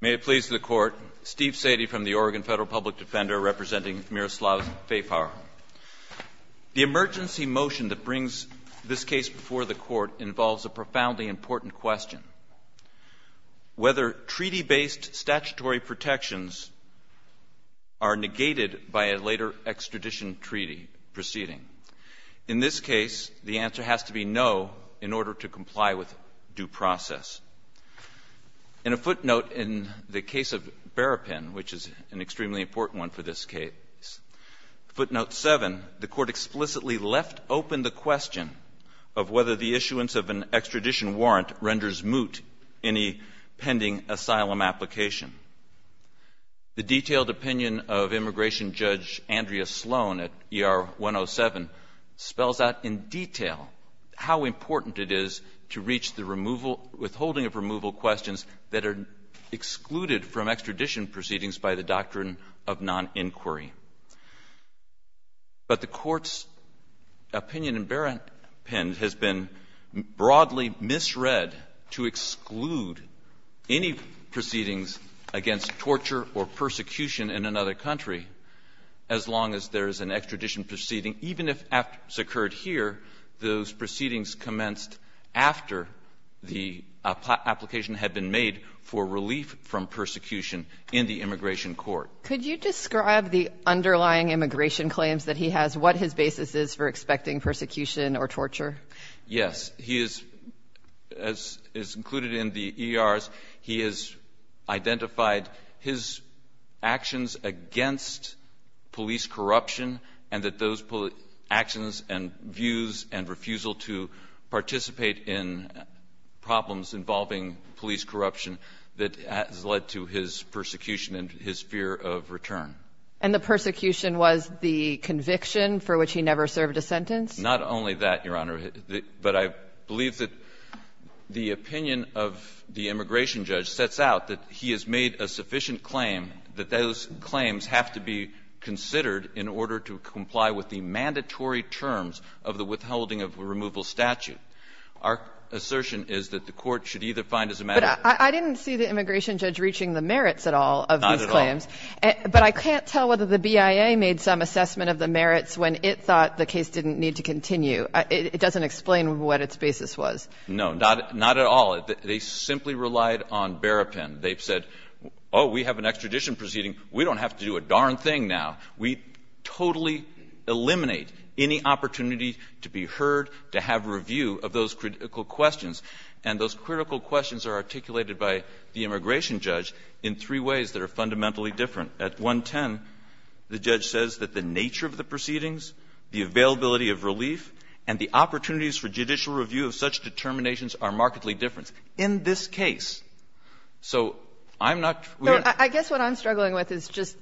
May it please the Court, Steve Sadie from the Oregon Federal Public Defender representing Miroslav Fejfar. The emergency motion that brings this case before the Court involves a profoundly important question. Whether treaty-based statutory protections are negated by a later extradition treaty proceeding? In this case, the answer has to be no in order to comply with due process. In a footnote in the case of Berrapin, which is an extremely important one for this case, footnote 7, the Court explicitly left open the question of whether the issuance of an extradition warrant renders moot any pending asylum application. The detailed opinion of Immigration Judge Andrea Sloan at ER 107 spells out in detail how important it is to reach the removal — withholding of removal questions that are excluded from extradition proceedings by the doctrine of noninquiry. But the Court's opinion in Berrapin has been broadly misread to exclude any proceedings against torture or persecution in another country as long as there is an extradition proceeding, even if after it's occurred here, those proceedings commenced after the application had been made for relief from persecution in the immigration court. Could you describe the underlying immigration claims that he has, what his basis is for expecting persecution or torture? Yes. He is, as is included in the ERs, he has identified his actions against police corruption and that those actions and views and refusal to participate in problems involving police corruption that has led to his persecution and his fear of return. And the persecution was the conviction for which he never served a sentence? Not only that, Your Honor, but I believe that the opinion of the Immigration Judge sets out that he has made a sufficient claim that those claims have to be considered in order to comply with the mandatory terms of the withholding of a removal statute. Our assertion is that the Court should either find as a matter of the case or not. But I didn't see the Immigration Judge reaching the merits at all of these claims. Not at all. But I can't tell whether the BIA made some assessment of the merits when it thought the case didn't need to continue. It doesn't explain what its basis was. No. Not at all. They simply relied on Berrapin. They said, oh, we have an extradition proceeding. We don't have to do a darn thing now. We totally eliminate any opportunity to be heard, to have review of those critical questions. And those critical questions are articulated by the Immigration Judge in three ways that are fundamentally different. At 110, the judge says that the nature of the proceedings, the availability of relief, and the opportunities for judicial review of such determinations are markedly different in this case. So I'm not sure we're going to be able to do that. I guess what I'm struggling with is just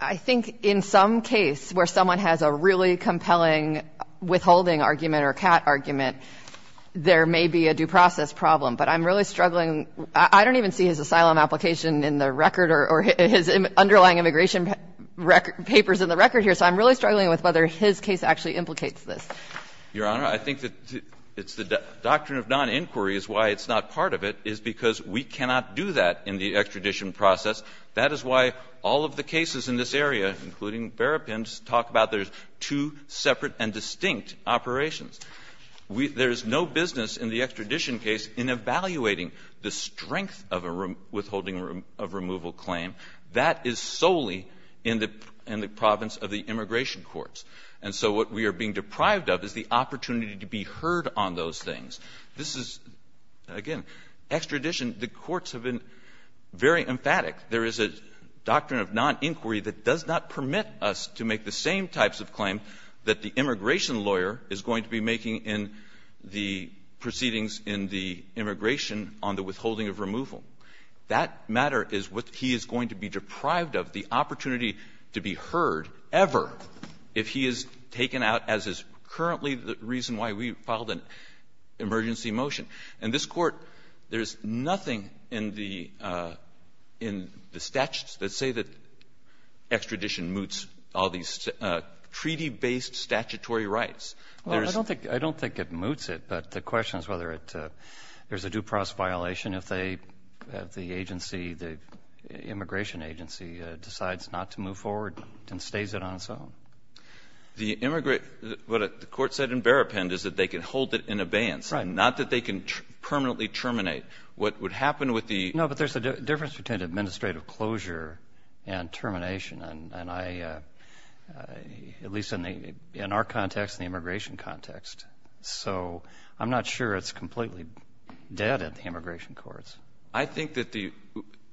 I think in some case where someone has a really compelling withholding argument or a cat argument, there may be a due process problem. But I'm really struggling. I don't even see his asylum application in the record or his underlying immigration papers in the record here. So I'm really struggling with whether his case actually implicates this. Your Honor, I think that it's the doctrine of noninquiry is why it's not part of it, is because we cannot do that in the extradition process. That is why all of the cases in this area, including Berrapin's, talk about there's two separate and distinct operations. There's no business in the extradition case in evaluating the strength of a withholding of removal claim. That is solely in the province of the immigration courts. And so what we are being deprived of is the opportunity to be heard on those things. This is, again, extradition, the courts have been very emphatic. There is a doctrine of noninquiry that does not permit us to make the same types of claim that the immigration lawyer is going to be making in the proceedings in the immigration on the withholding of removal. That matter is what he is going to be deprived of, the opportunity to be heard ever, if he is taken out as is currently the reason why we filed an emergency motion. And this Court, there's nothing in the statutes that say that extradition moots all these treaty-based statutory rights. Well, I don't think it moots it. But the question is whether it's a due process violation if they, if the agency, the immigration agency decides not to move forward and stays it on its own. The immigrant, what the Court said in Berrapin is that they can hold it in abeyance. Right. Not that they can permanently terminate. What would happen with the No, but there's a difference between administrative closure and termination. And I, at least in the, in our context, the immigration context. So I'm not sure it's completely dead at the immigration courts. I think that the,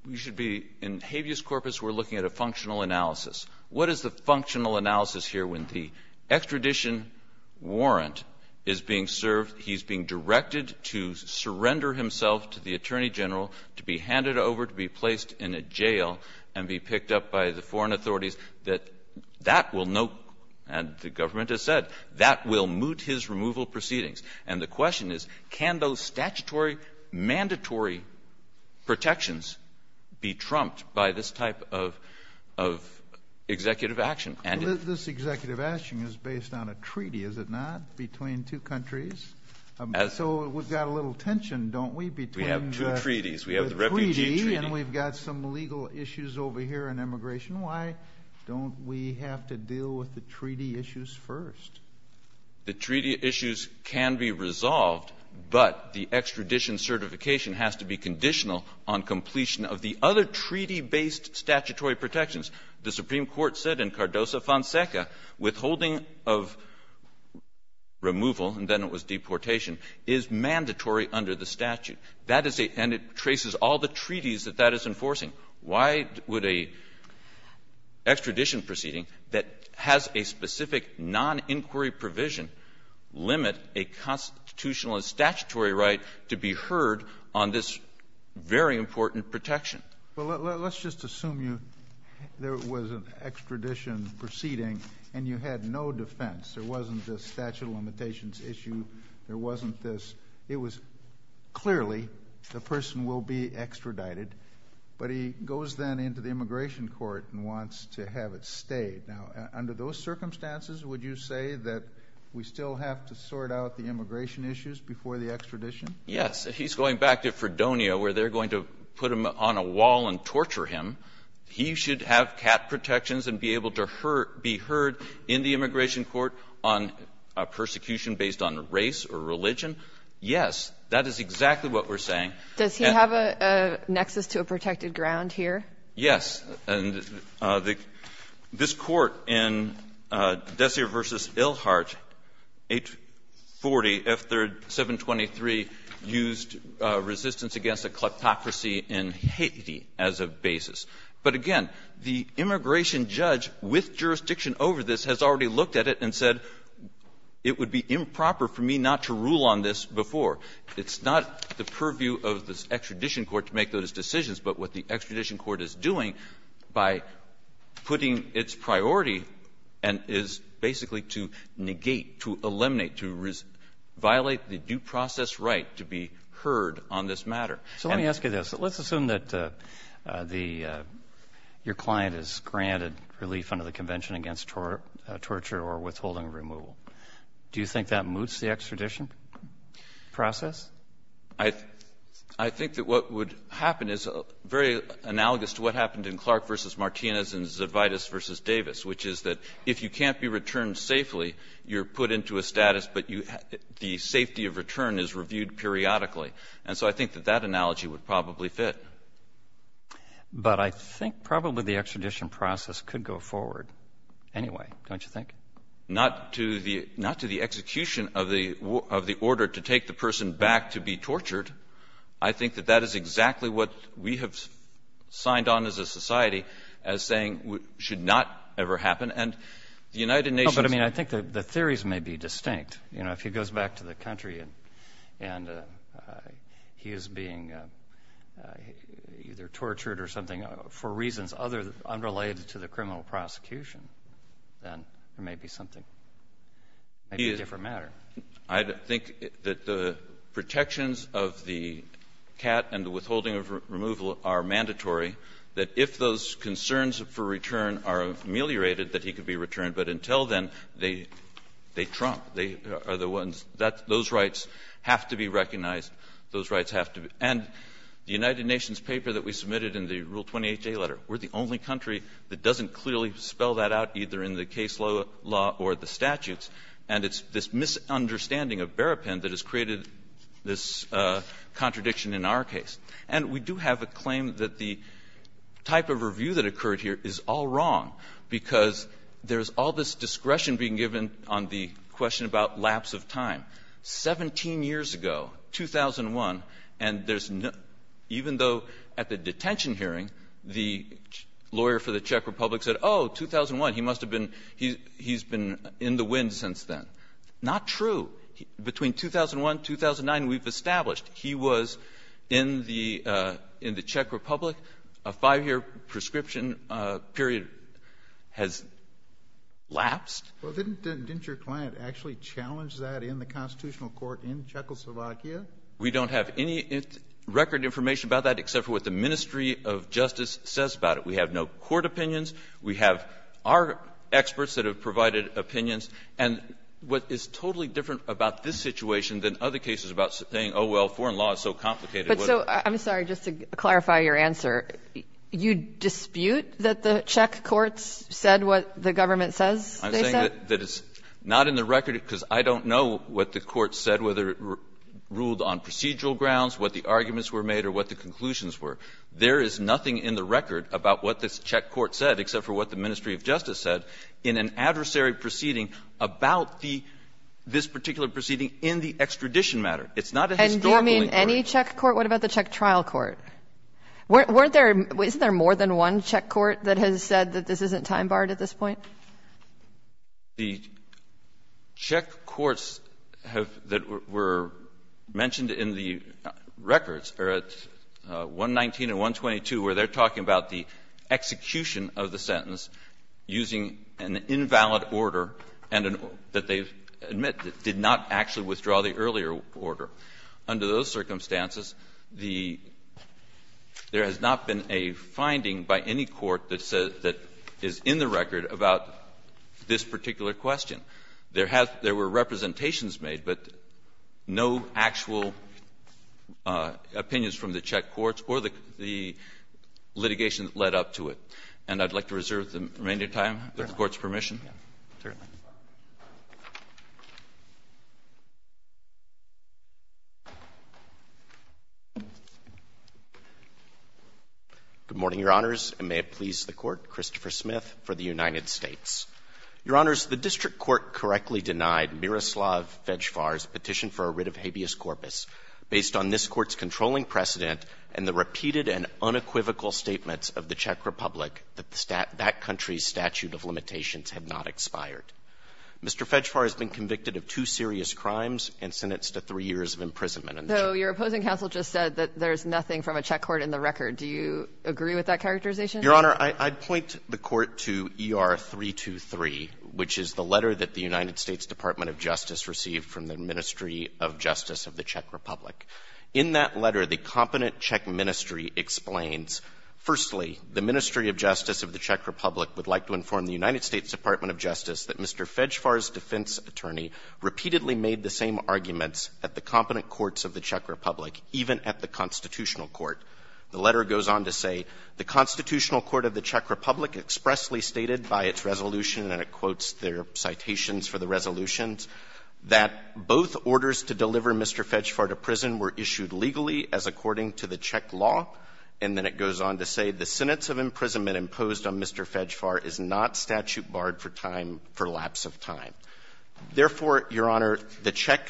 you should be, in habeas corpus, we're looking at a functional analysis. What is the functional analysis here when the extradition warrant is being served, he's being directed to surrender himself to the Attorney General, to be handed over, to be placed in a jail, and be picked up by the foreign authorities, that that will no, and the government has said, that will moot his removal proceedings. And the question is, can those statutory, mandatory protections be trumped by this type of, of executive action? And. This executive action is based on a treaty, is it not? Between two countries? As. So we've got a little tension, don't we, between. We have two treaties. We have the refugee treaty. The treaty, and we've got some legal issues over here in immigration. Why don't we have to deal with the treaty issues first? The treaty issues can be resolved, but the extradition certification has to be conditional on completion of the other treaty-based statutory protections. The Supreme Court said in Cardoso-Fonseca, withholding of removal, and then it was deportation, is mandatory under the statute. And that is a, and it traces all the treaties that that is enforcing. Why would a extradition proceeding that has a specific non-inquiry provision limit a constitutional and statutory right to be heard on this very important protection? Well, let's just assume you, there was an extradition proceeding and you had no defense. There wasn't this statute of limitations issue. There wasn't this. It was clearly the person will be extradited, but he goes then into the immigration court and wants to have it stayed. Now, under those circumstances, would you say that we still have to sort out the immigration issues before the extradition? Yes. If he's going back to Fredonia where they're going to put him on a wall and torture him, he should have cat protections and be able to be heard in the immigration court on a persecution based on race or religion. Yes, that is exactly what we're saying. And the question is, does he have a nexus to a protected ground here? Yes. And this Court in Dessier v. Ilhart, 840, F3rd 723, used resistance against a kleptocracy in Haiti as a basis. But again, the immigration judge with jurisdiction over this has already looked at it and said, it would be improper for me not to rule on this before. It's not the purview of the extradition court to make those decisions, but what the extradition court is doing by putting its priority and is basically to negate, to eliminate, to violate the due process right to be heard on this matter. So let me ask you this. Let's assume that the – your client is granted relief under the Convention against Torture or Withholding of Removal. Do you think that moots the extradition process? I think that what would happen is very analogous to what happened in Clark v. Martinez and Zavidas v. Davis, which is that if you can't be returned safely, you're put into a status, but the safety of return is reviewed periodically. And so I think that that analogy would probably fit. But I think probably the extradition process could go forward anyway, don't you think? Not to the execution of the order to take the person back to be tortured. I think that that is exactly what we have signed on as a society as saying should not ever happen. And the United Nations – But, I mean, I think the theories may be distinct. You know, if he goes back to the country and he is being either tortured or something for reasons other – unrelated to the criminal prosecution, then there may be something – maybe a different matter. I think that the protections of the CAT and the withholding of removal are mandatory, that if those concerns for return are ameliorated, that he could be returned. But until then, they trump. They are the ones that those rights have to be recognized. Those rights have to be – and the United Nations paper that we submitted in the Rule 28J letter, we're the only country that doesn't clearly spell that out, either in the case law or the statutes. And it's this misunderstanding of Berrapin that has created this contradiction in our case. And we do have a claim that the type of review that occurred here is all wrong, because there's all this discretion being given on the question about lapse of time. Seventeen years ago, 2001, and there's – even though at the detention hearing, the lawyer for the Czech Republic said, oh, 2001, he must have been – he's been in the wind since then. Not true. Between 2001, 2009, we've established he was in the – in the Czech Republic for a little while, a five-year prescription period has lapsed. Well, didn't – didn't your client actually challenge that in the constitutional court in Czechoslovakia? We don't have any record information about that, except for what the Ministry of Justice says about it. We have no court opinions. We have our experts that have provided opinions. And what is totally different about this situation than other cases about saying, oh, well, foreign law is so complicated, what do we do? So I'm sorry, just to clarify your answer, you dispute that the Czech courts said what the government says they said? I'm saying that it's not in the record, because I don't know what the court said, whether it ruled on procedural grounds, what the arguments were made, or what the conclusions were. There is nothing in the record about what the Czech court said, except for what the Ministry of Justice said, in an adversary proceeding about the – this particular proceeding in the extradition matter. It's not a historical inquiry. Any Czech court? What about the Czech trial court? Weren't there – isn't there more than one Czech court that has said that this isn't time-barred at this point? The Czech courts have – that were mentioned in the records are at 119 and 122, where they're talking about the execution of the sentence using an invalid order and an – that they admit did not actually withdraw the earlier order. Under those circumstances, the – there has not been a finding by any court that says – that is in the record about this particular question. There have – there were representations made, but no actual opinions from the Czech courts or the litigation that led up to it. And I'd like to reserve the remaining time, if the Court's permission. Yes, certainly. Good morning, Your Honors, and may it please the Court. Christopher Smith for the United States. Your Honors, the district court correctly denied Miroslav Vejvar's petition for a writ of habeas corpus based on this Court's controlling precedent and the repeated and unequivocal statements of the Czech Republic that that country's statute of limitations had not expired. Mr. Vejvar has been convicted of two serious crimes and sentenced to three years of imprisonment. So your opposing counsel just said that there's nothing from a Czech court in the record. Do you agree with that characterization? Your Honor, I'd point the Court to ER-323, which is the letter that the United States Department of Justice received from the Ministry of Justice of the Czech Republic. In that letter, the competent Czech ministry explains, firstly, the Ministry of Justice of the Czech Republic would like to inform the United States Department of Justice that Mr. Vejvar's defense attorney repeatedly made the same arguments at the competent courts of the Czech Republic, even at the constitutional court. The letter goes on to say, the Constitutional Court of the Czech Republic expressly stated by its resolution, and it quotes their citations for the resolutions, that both orders to deliver Mr. Vejvar to prison were issued legally as according to the Czech law. And then it goes on to say, the sentence of imprisonment imposed on Mr. Vejvar is not statute barred for time, for lapse of time. Therefore, Your Honor, the Czech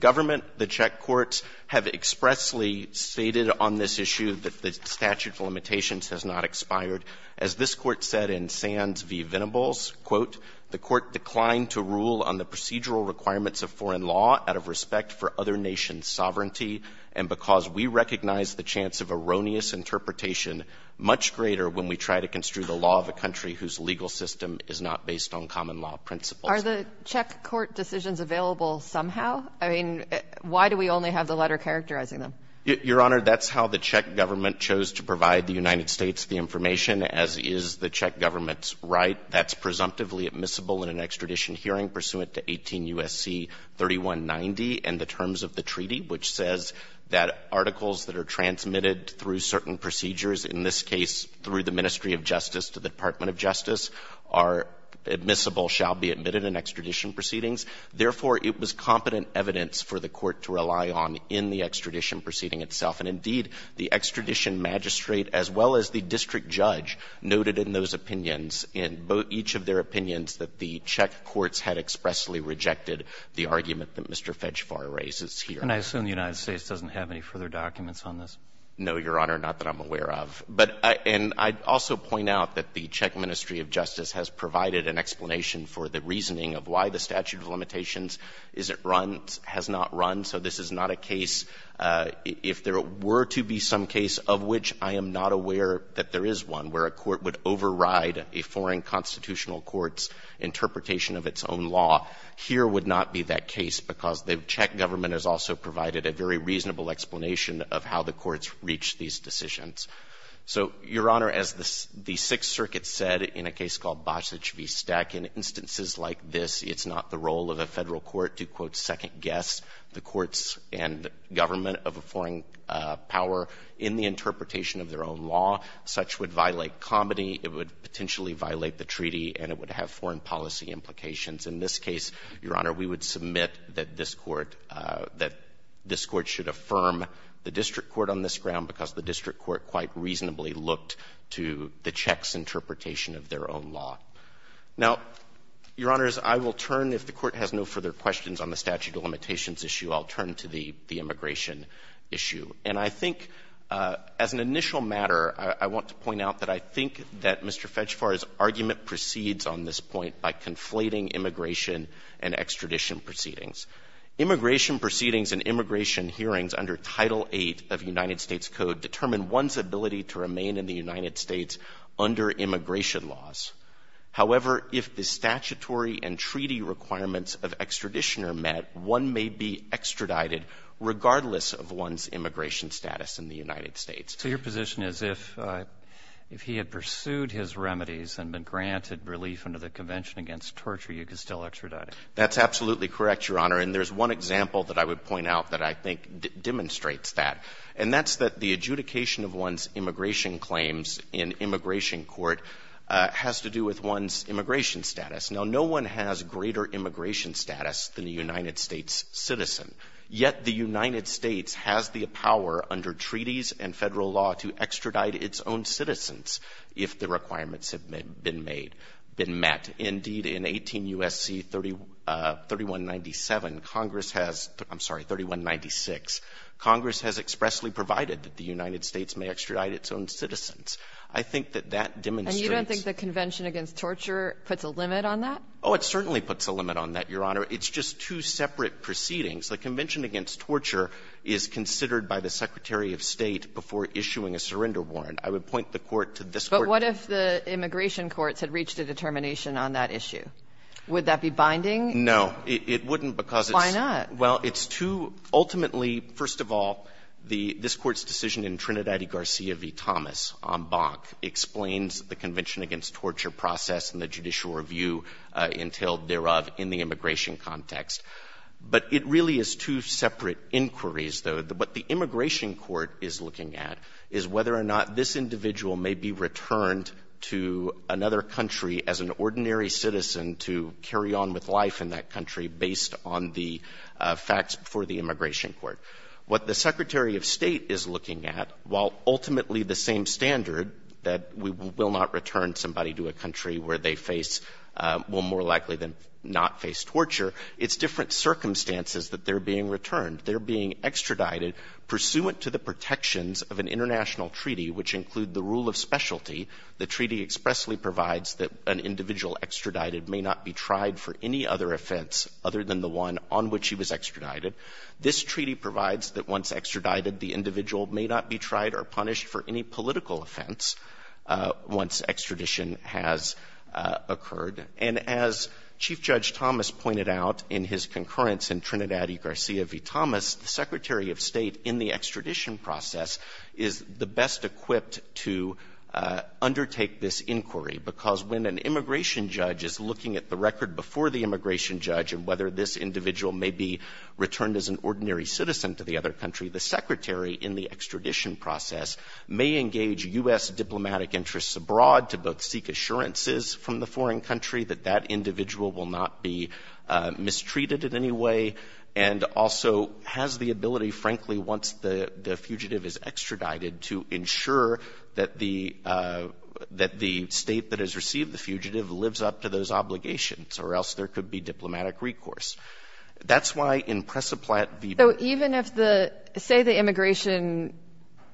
government, the Czech courts have expressly stated on this issue that the statute of limitations has not expired. As this Court said in Sands v. Venables, quote, the Court declined to rule on the procedural and because we recognize the chance of erroneous interpretation much greater when we try to construe the law of a country whose legal system is not based on common law principles. Are the Czech court decisions available somehow? I mean, why do we only have the letter characterizing them? Your Honor, that's how the Czech government chose to provide the United States the information, as is the Czech government's right. That's presumptively admissible in an extradition hearing pursuant to 18 U.S.C. 3190 and the terms of the treaty, which says that articles that are transmitted through certain procedures, in this case through the Ministry of Justice to the Department of Justice, are admissible, shall be admitted in extradition proceedings. Therefore, it was competent evidence for the Court to rely on in the extradition proceeding itself. And indeed, the extradition magistrate, as well as the district judge, noted in those opinions, in each of their opinions, that the Czech courts had expressly rejected the argument that Mr. Fejfar raises here. And I assume the United States doesn't have any further documents on this? No, Your Honor, not that I'm aware of. But and I'd also point out that the Czech Ministry of Justice has provided an explanation for the reasoning of why the statute of limitations is it runs, has not run, so this is not a case, if there were to be some case of which I am not aware that there is one, where a court would override a foreign constitutional court's interpretation of its own law, here would not be that case, because the Czech government has also provided a very reasonable explanation of how the courts reach these decisions. So, Your Honor, as the Sixth Circuit said in a case called Bosic v. Stek, in instances like this, it's not the role of a Federal court to, quote, second-guess the courts and government of a foreign power in the interpretation of their own law. Such would violate comedy, it would potentially violate the treaty, and it would have foreign policy implications. In this case, Your Honor, we would submit that this Court, that this Court should affirm the district court on this ground, because the district court quite reasonably looked to the Czechs' interpretation of their own law. Now, Your Honors, I will turn, if the Court has no further questions on the statute of limitations issue, I'll turn to the immigration issue. And I think, as an initial matter, I want to point out that I think that Mr. Fetchfar's point is very important. I think it's very important that we look at this point by conflating immigration and extradition proceedings. Immigration proceedings and immigration hearings under Title VIII of United States Code determine one's ability to remain in the United States under immigration laws. However, if the statutory and treaty requirements of extradition are met, one may be extradited regardless of one's immigration status in the United States. So your position is if he had pursued his remedies and been granted relief under the Convention Against Torture, you could still extradite him? That's absolutely correct, Your Honor. And there's one example that I would point out that I think demonstrates that, and that's that the adjudication of one's immigration claims in immigration court has to do with one's immigration status. Now, no one has greater immigration status than a United States citizen, yet the U.S. has not passed a law to extradite its own citizens if the requirements have been made — been met. Indeed, in 18 U.S.C. 3197, Congress has — I'm sorry, 3196, Congress has expressly provided that the United States may extradite its own citizens. I think that that demonstrates — And you don't think the Convention Against Torture puts a limit on that? Oh, it certainly puts a limit on that, Your Honor. It's just two separate proceedings. The Convention Against Torture is considered by the Secretary of State before issuing a surrender warrant. I would point the Court to this Court. But what if the immigration courts had reached a determination on that issue? Would that be binding? No. It wouldn't because it's too — Why not? Well, it's too — ultimately, first of all, the — this Court's decision in Trinidadi-Garcia v. Thomas on Bonk explains the Convention Against Torture process and the judicial review entailed thereof in the immigration context. But it really is two separate inquiries, though. What the immigration court is looking at is whether or not this individual may be returned to another country as an ordinary citizen to carry on with life in that country based on the facts before the immigration court. What the Secretary of State is looking at, while ultimately the same standard that we will not return somebody to a country where they face — well, more likely than not face torture, it's different circumstances that they're being returned. They're being extradited pursuant to the protections of an international treaty, which include the rule of specialty. The treaty expressly provides that an individual extradited may not be tried for any other offense other than the one on which he was extradited. This treaty provides that once extradited, the individual may not be tried or punished for any political offense once extradition has occurred. And as Chief Judge Thomas pointed out in his concurrence in Trinidad v. Garcia v. Thomas, the Secretary of State in the extradition process is the best equipped to undertake this inquiry, because when an immigration judge is looking at the record before the immigration judge and whether this individual may be returned as an ordinary citizen to the other country, the Secretary in the extradition process may engage U.S. diplomatic interests abroad to both seek assurances from the foreign country that that individual will not be mistreated in any way, and also has the ability, frankly, once the fugitive is extradited, to ensure that the — that the State that has received the fugitive lives up to those obligations, or else there could be diplomatic recourse. That's why in Press-a-Platte v. — So even if the — say the immigration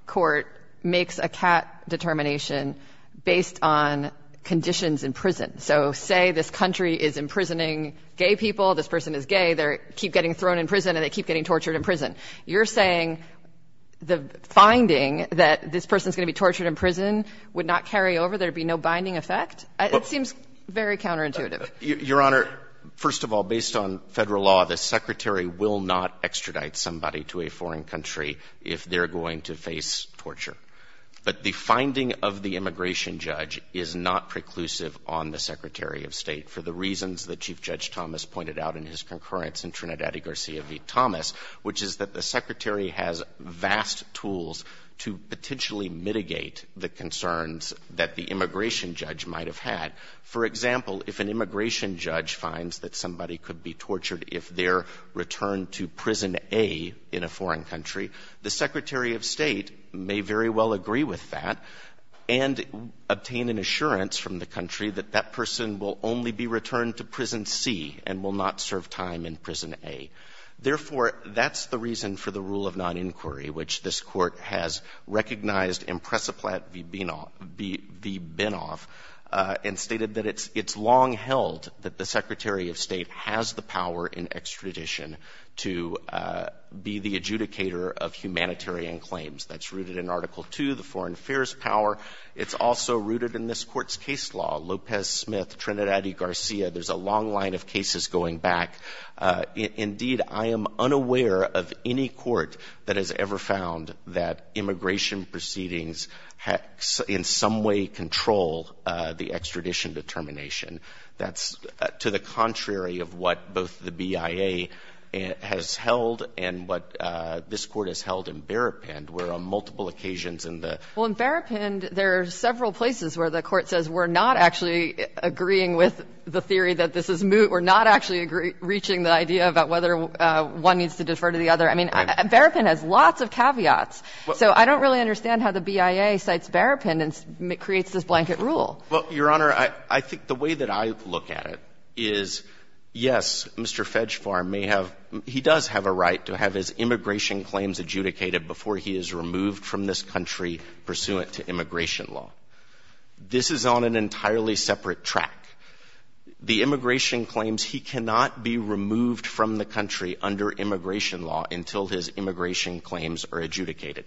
court makes a cat determination based on conditions in prison. So say this country is imprisoning gay people, this person is gay, they're — keep getting thrown in prison and they keep getting tortured in prison. You're saying the finding that this person is going to be tortured in prison would not carry over, there would be no binding effect? It seems very counterintuitive. Your Honor, first of all, based on Federal law, the Secretary will not extradite somebody to a foreign country if they're going to face torture. But the finding of the immigration judge is not preclusive on the Secretary of State for the reasons that Chief Judge Thomas pointed out in his concurrence in Trinidadi Garcia v. Thomas, which is that the Secretary has vast tools to potentially mitigate the concerns that the immigration judge might have had. For example, if an immigration judge finds that somebody could be tortured if they're returned to Prison A in a foreign country, the Secretary of State may very well agree with that and obtain an assurance from the country that that person will only be returned to Prison C and will not serve time in Prison A. Therefore, that's the reason for the rule of noninquiry, which this Court has recognized in Presiplat v. Binov and stated that it's long held that the Secretary of State has the power in extradition to be the adjudicator of humanitarian claims. That's rooted in Article II, the foreign affairs power. It's also rooted in this Court's case law, Lopez-Smith, Trinidadi Garcia. There's a long line of cases going back. Indeed, I am unaware of any court that has ever found that immigration proceedings in some way control the extradition determination. That's to the contrary of what both the BIA has held and what this Court has held in Berrapin, where on multiple occasions in the ---- Anderson, Well, in Berrapin, there are several places where the Court says we're not actually agreeing with the theory that this is moot, we're not actually reaching the idea about whether one needs to defer to the other. I mean, Berrapin has lots of caveats. So I don't really understand how the BIA cites Berrapin and creates this blanket rule. Well, Your Honor, I think the way that I look at it is, yes, Mr. Fegfarm may have he does have a right to have his immigration claims adjudicated before he is removed from this country pursuant to immigration law. This is on an entirely separate track. The immigration claims, he cannot be removed from the country under immigration law until his immigration claims are adjudicated.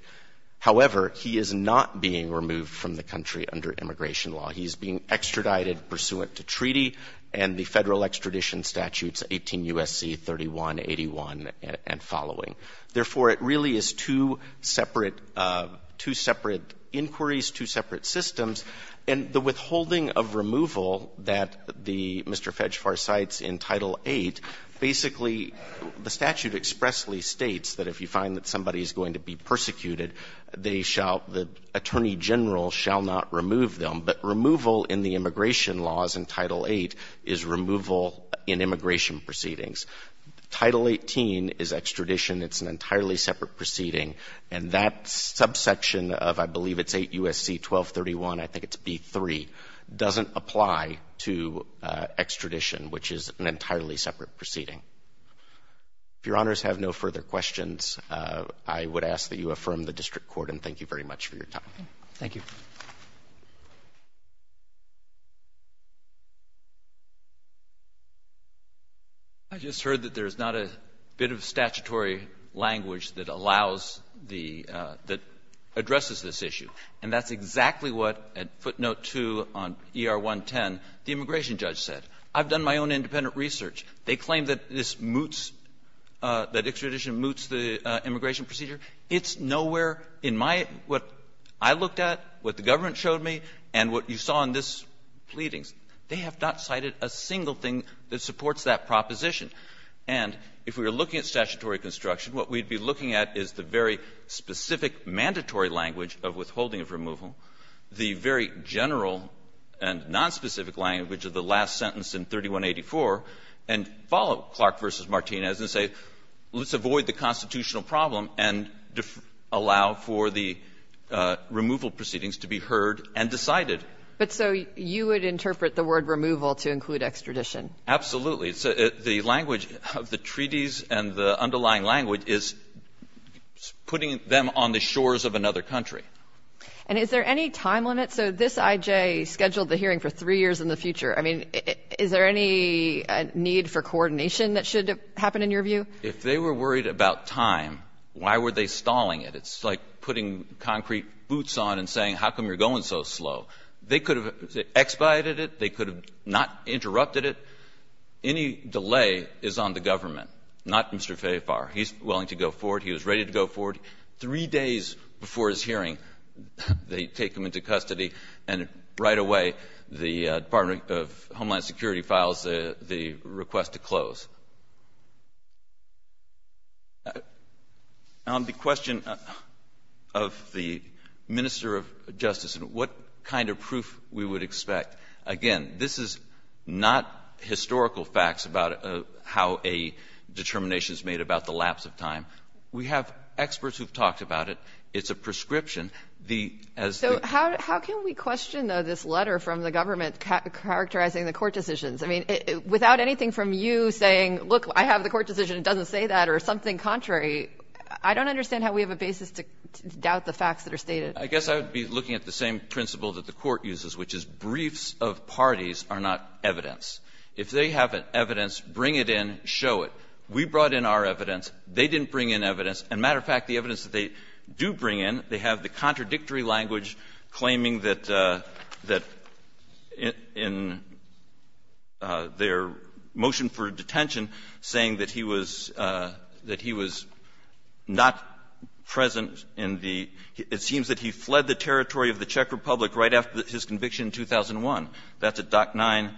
However, he is not being removed from the country under immigration law. He is being extradited pursuant to treaty and the Federal extradition statutes 18 U.S.C. 3181 and following. Therefore, it really is two separate ---- two separate inquiries, two separate systems. And the withholding of removal that the Mr. Fegfarm cites in Title VIII, basically the statute expressly states that if you find that somebody is going to be persecuted, they shall the attorney general shall not remove them. But removal in the immigration laws in Title VIII is removal in immigration proceedings. Title XVIII is extradition. It's an entirely separate proceeding. And that subsection of, I believe it's 8 U.S.C. 1231, I think it's B-3, doesn't apply to extradition, which is an entirely separate proceeding. If Your Honors have no further questions, I would ask that you affirm the district court, and thank you very much for your time. Roberts. Thank you. I just heard that there's not a bit of statutory language that allows the ---- that addresses this issue. And that's exactly what, at footnote 2 on ER-110, the immigration judge said. I've done my own independent research. They claim that this moots, that extradition moots the immigration procedure. It's nowhere in my ---- what I looked at, what the government showed me, and what you saw in this pleadings. They have not cited a single thing that supports that proposition. And if we were looking at statutory construction, what we'd be looking at is the very specific mandatory language of withholding of removal, the very general and nonspecific language of the last sentence in 3184, and follow Clark v. Martinez and say, let's avoid the constitutional problem and allow for the removal proceedings to be heard and decided. But so you would interpret the word removal to include extradition? Absolutely. The language of the treaties and the underlying language is putting them on the shores of another country. And is there any time limit? So this I.J. scheduled the hearing for 3 years in the future. I mean, is there any need for coordination that should happen, in your view? If they were worried about time, why were they stalling it? It's like putting concrete boots on and saying, how come you're going so slow? They could have expiated it. They could have not interrupted it. Any delay is on the government, not Mr. Fayefar. He's willing to go forward. He was ready to go forward. Three days before his hearing, they take him into custody. And right away, the Department of Homeland Security files the request to close. On the question of the Minister of Justice and what kind of proof we would expect, again, this is not historical facts about how a determination is made about the lapse of time. We have experts who have talked about it. It's a prescription. The as the So how can we question, though, this letter from the government characterizing the court decisions? I mean, without anything from you saying, look, I have the court decision, it doesn't say that, or something contrary, I don't understand how we have a basis to doubt the facts that are stated. I guess I would be looking at the same principle that the Court uses, which is briefs of parties are not evidence. If they have evidence, bring it in, show it. We brought in our evidence. They didn't bring in evidence. As a matter of fact, the evidence that they do bring in, they have the contradictory language claiming that in their motion for detention, saying that he was not present in the It seems that he fled the territory of the Czech Republic right after his conviction in 2001. That's at Dock 9-2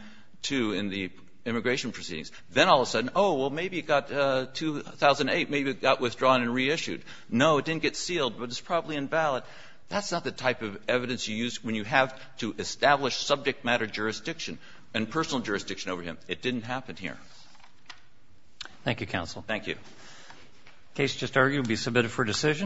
in the immigration proceedings. Then all of a sudden, oh, well, maybe it got 2008, maybe it got withdrawn and reissued. No, it didn't get sealed, but it's probably invalid. That's not the type of evidence you use when you have to establish subject matter jurisdiction and personal jurisdiction over him. It didn't happen here. Roberts. Thank you, counsel. Thank you. The case just argued will be submitted for decision.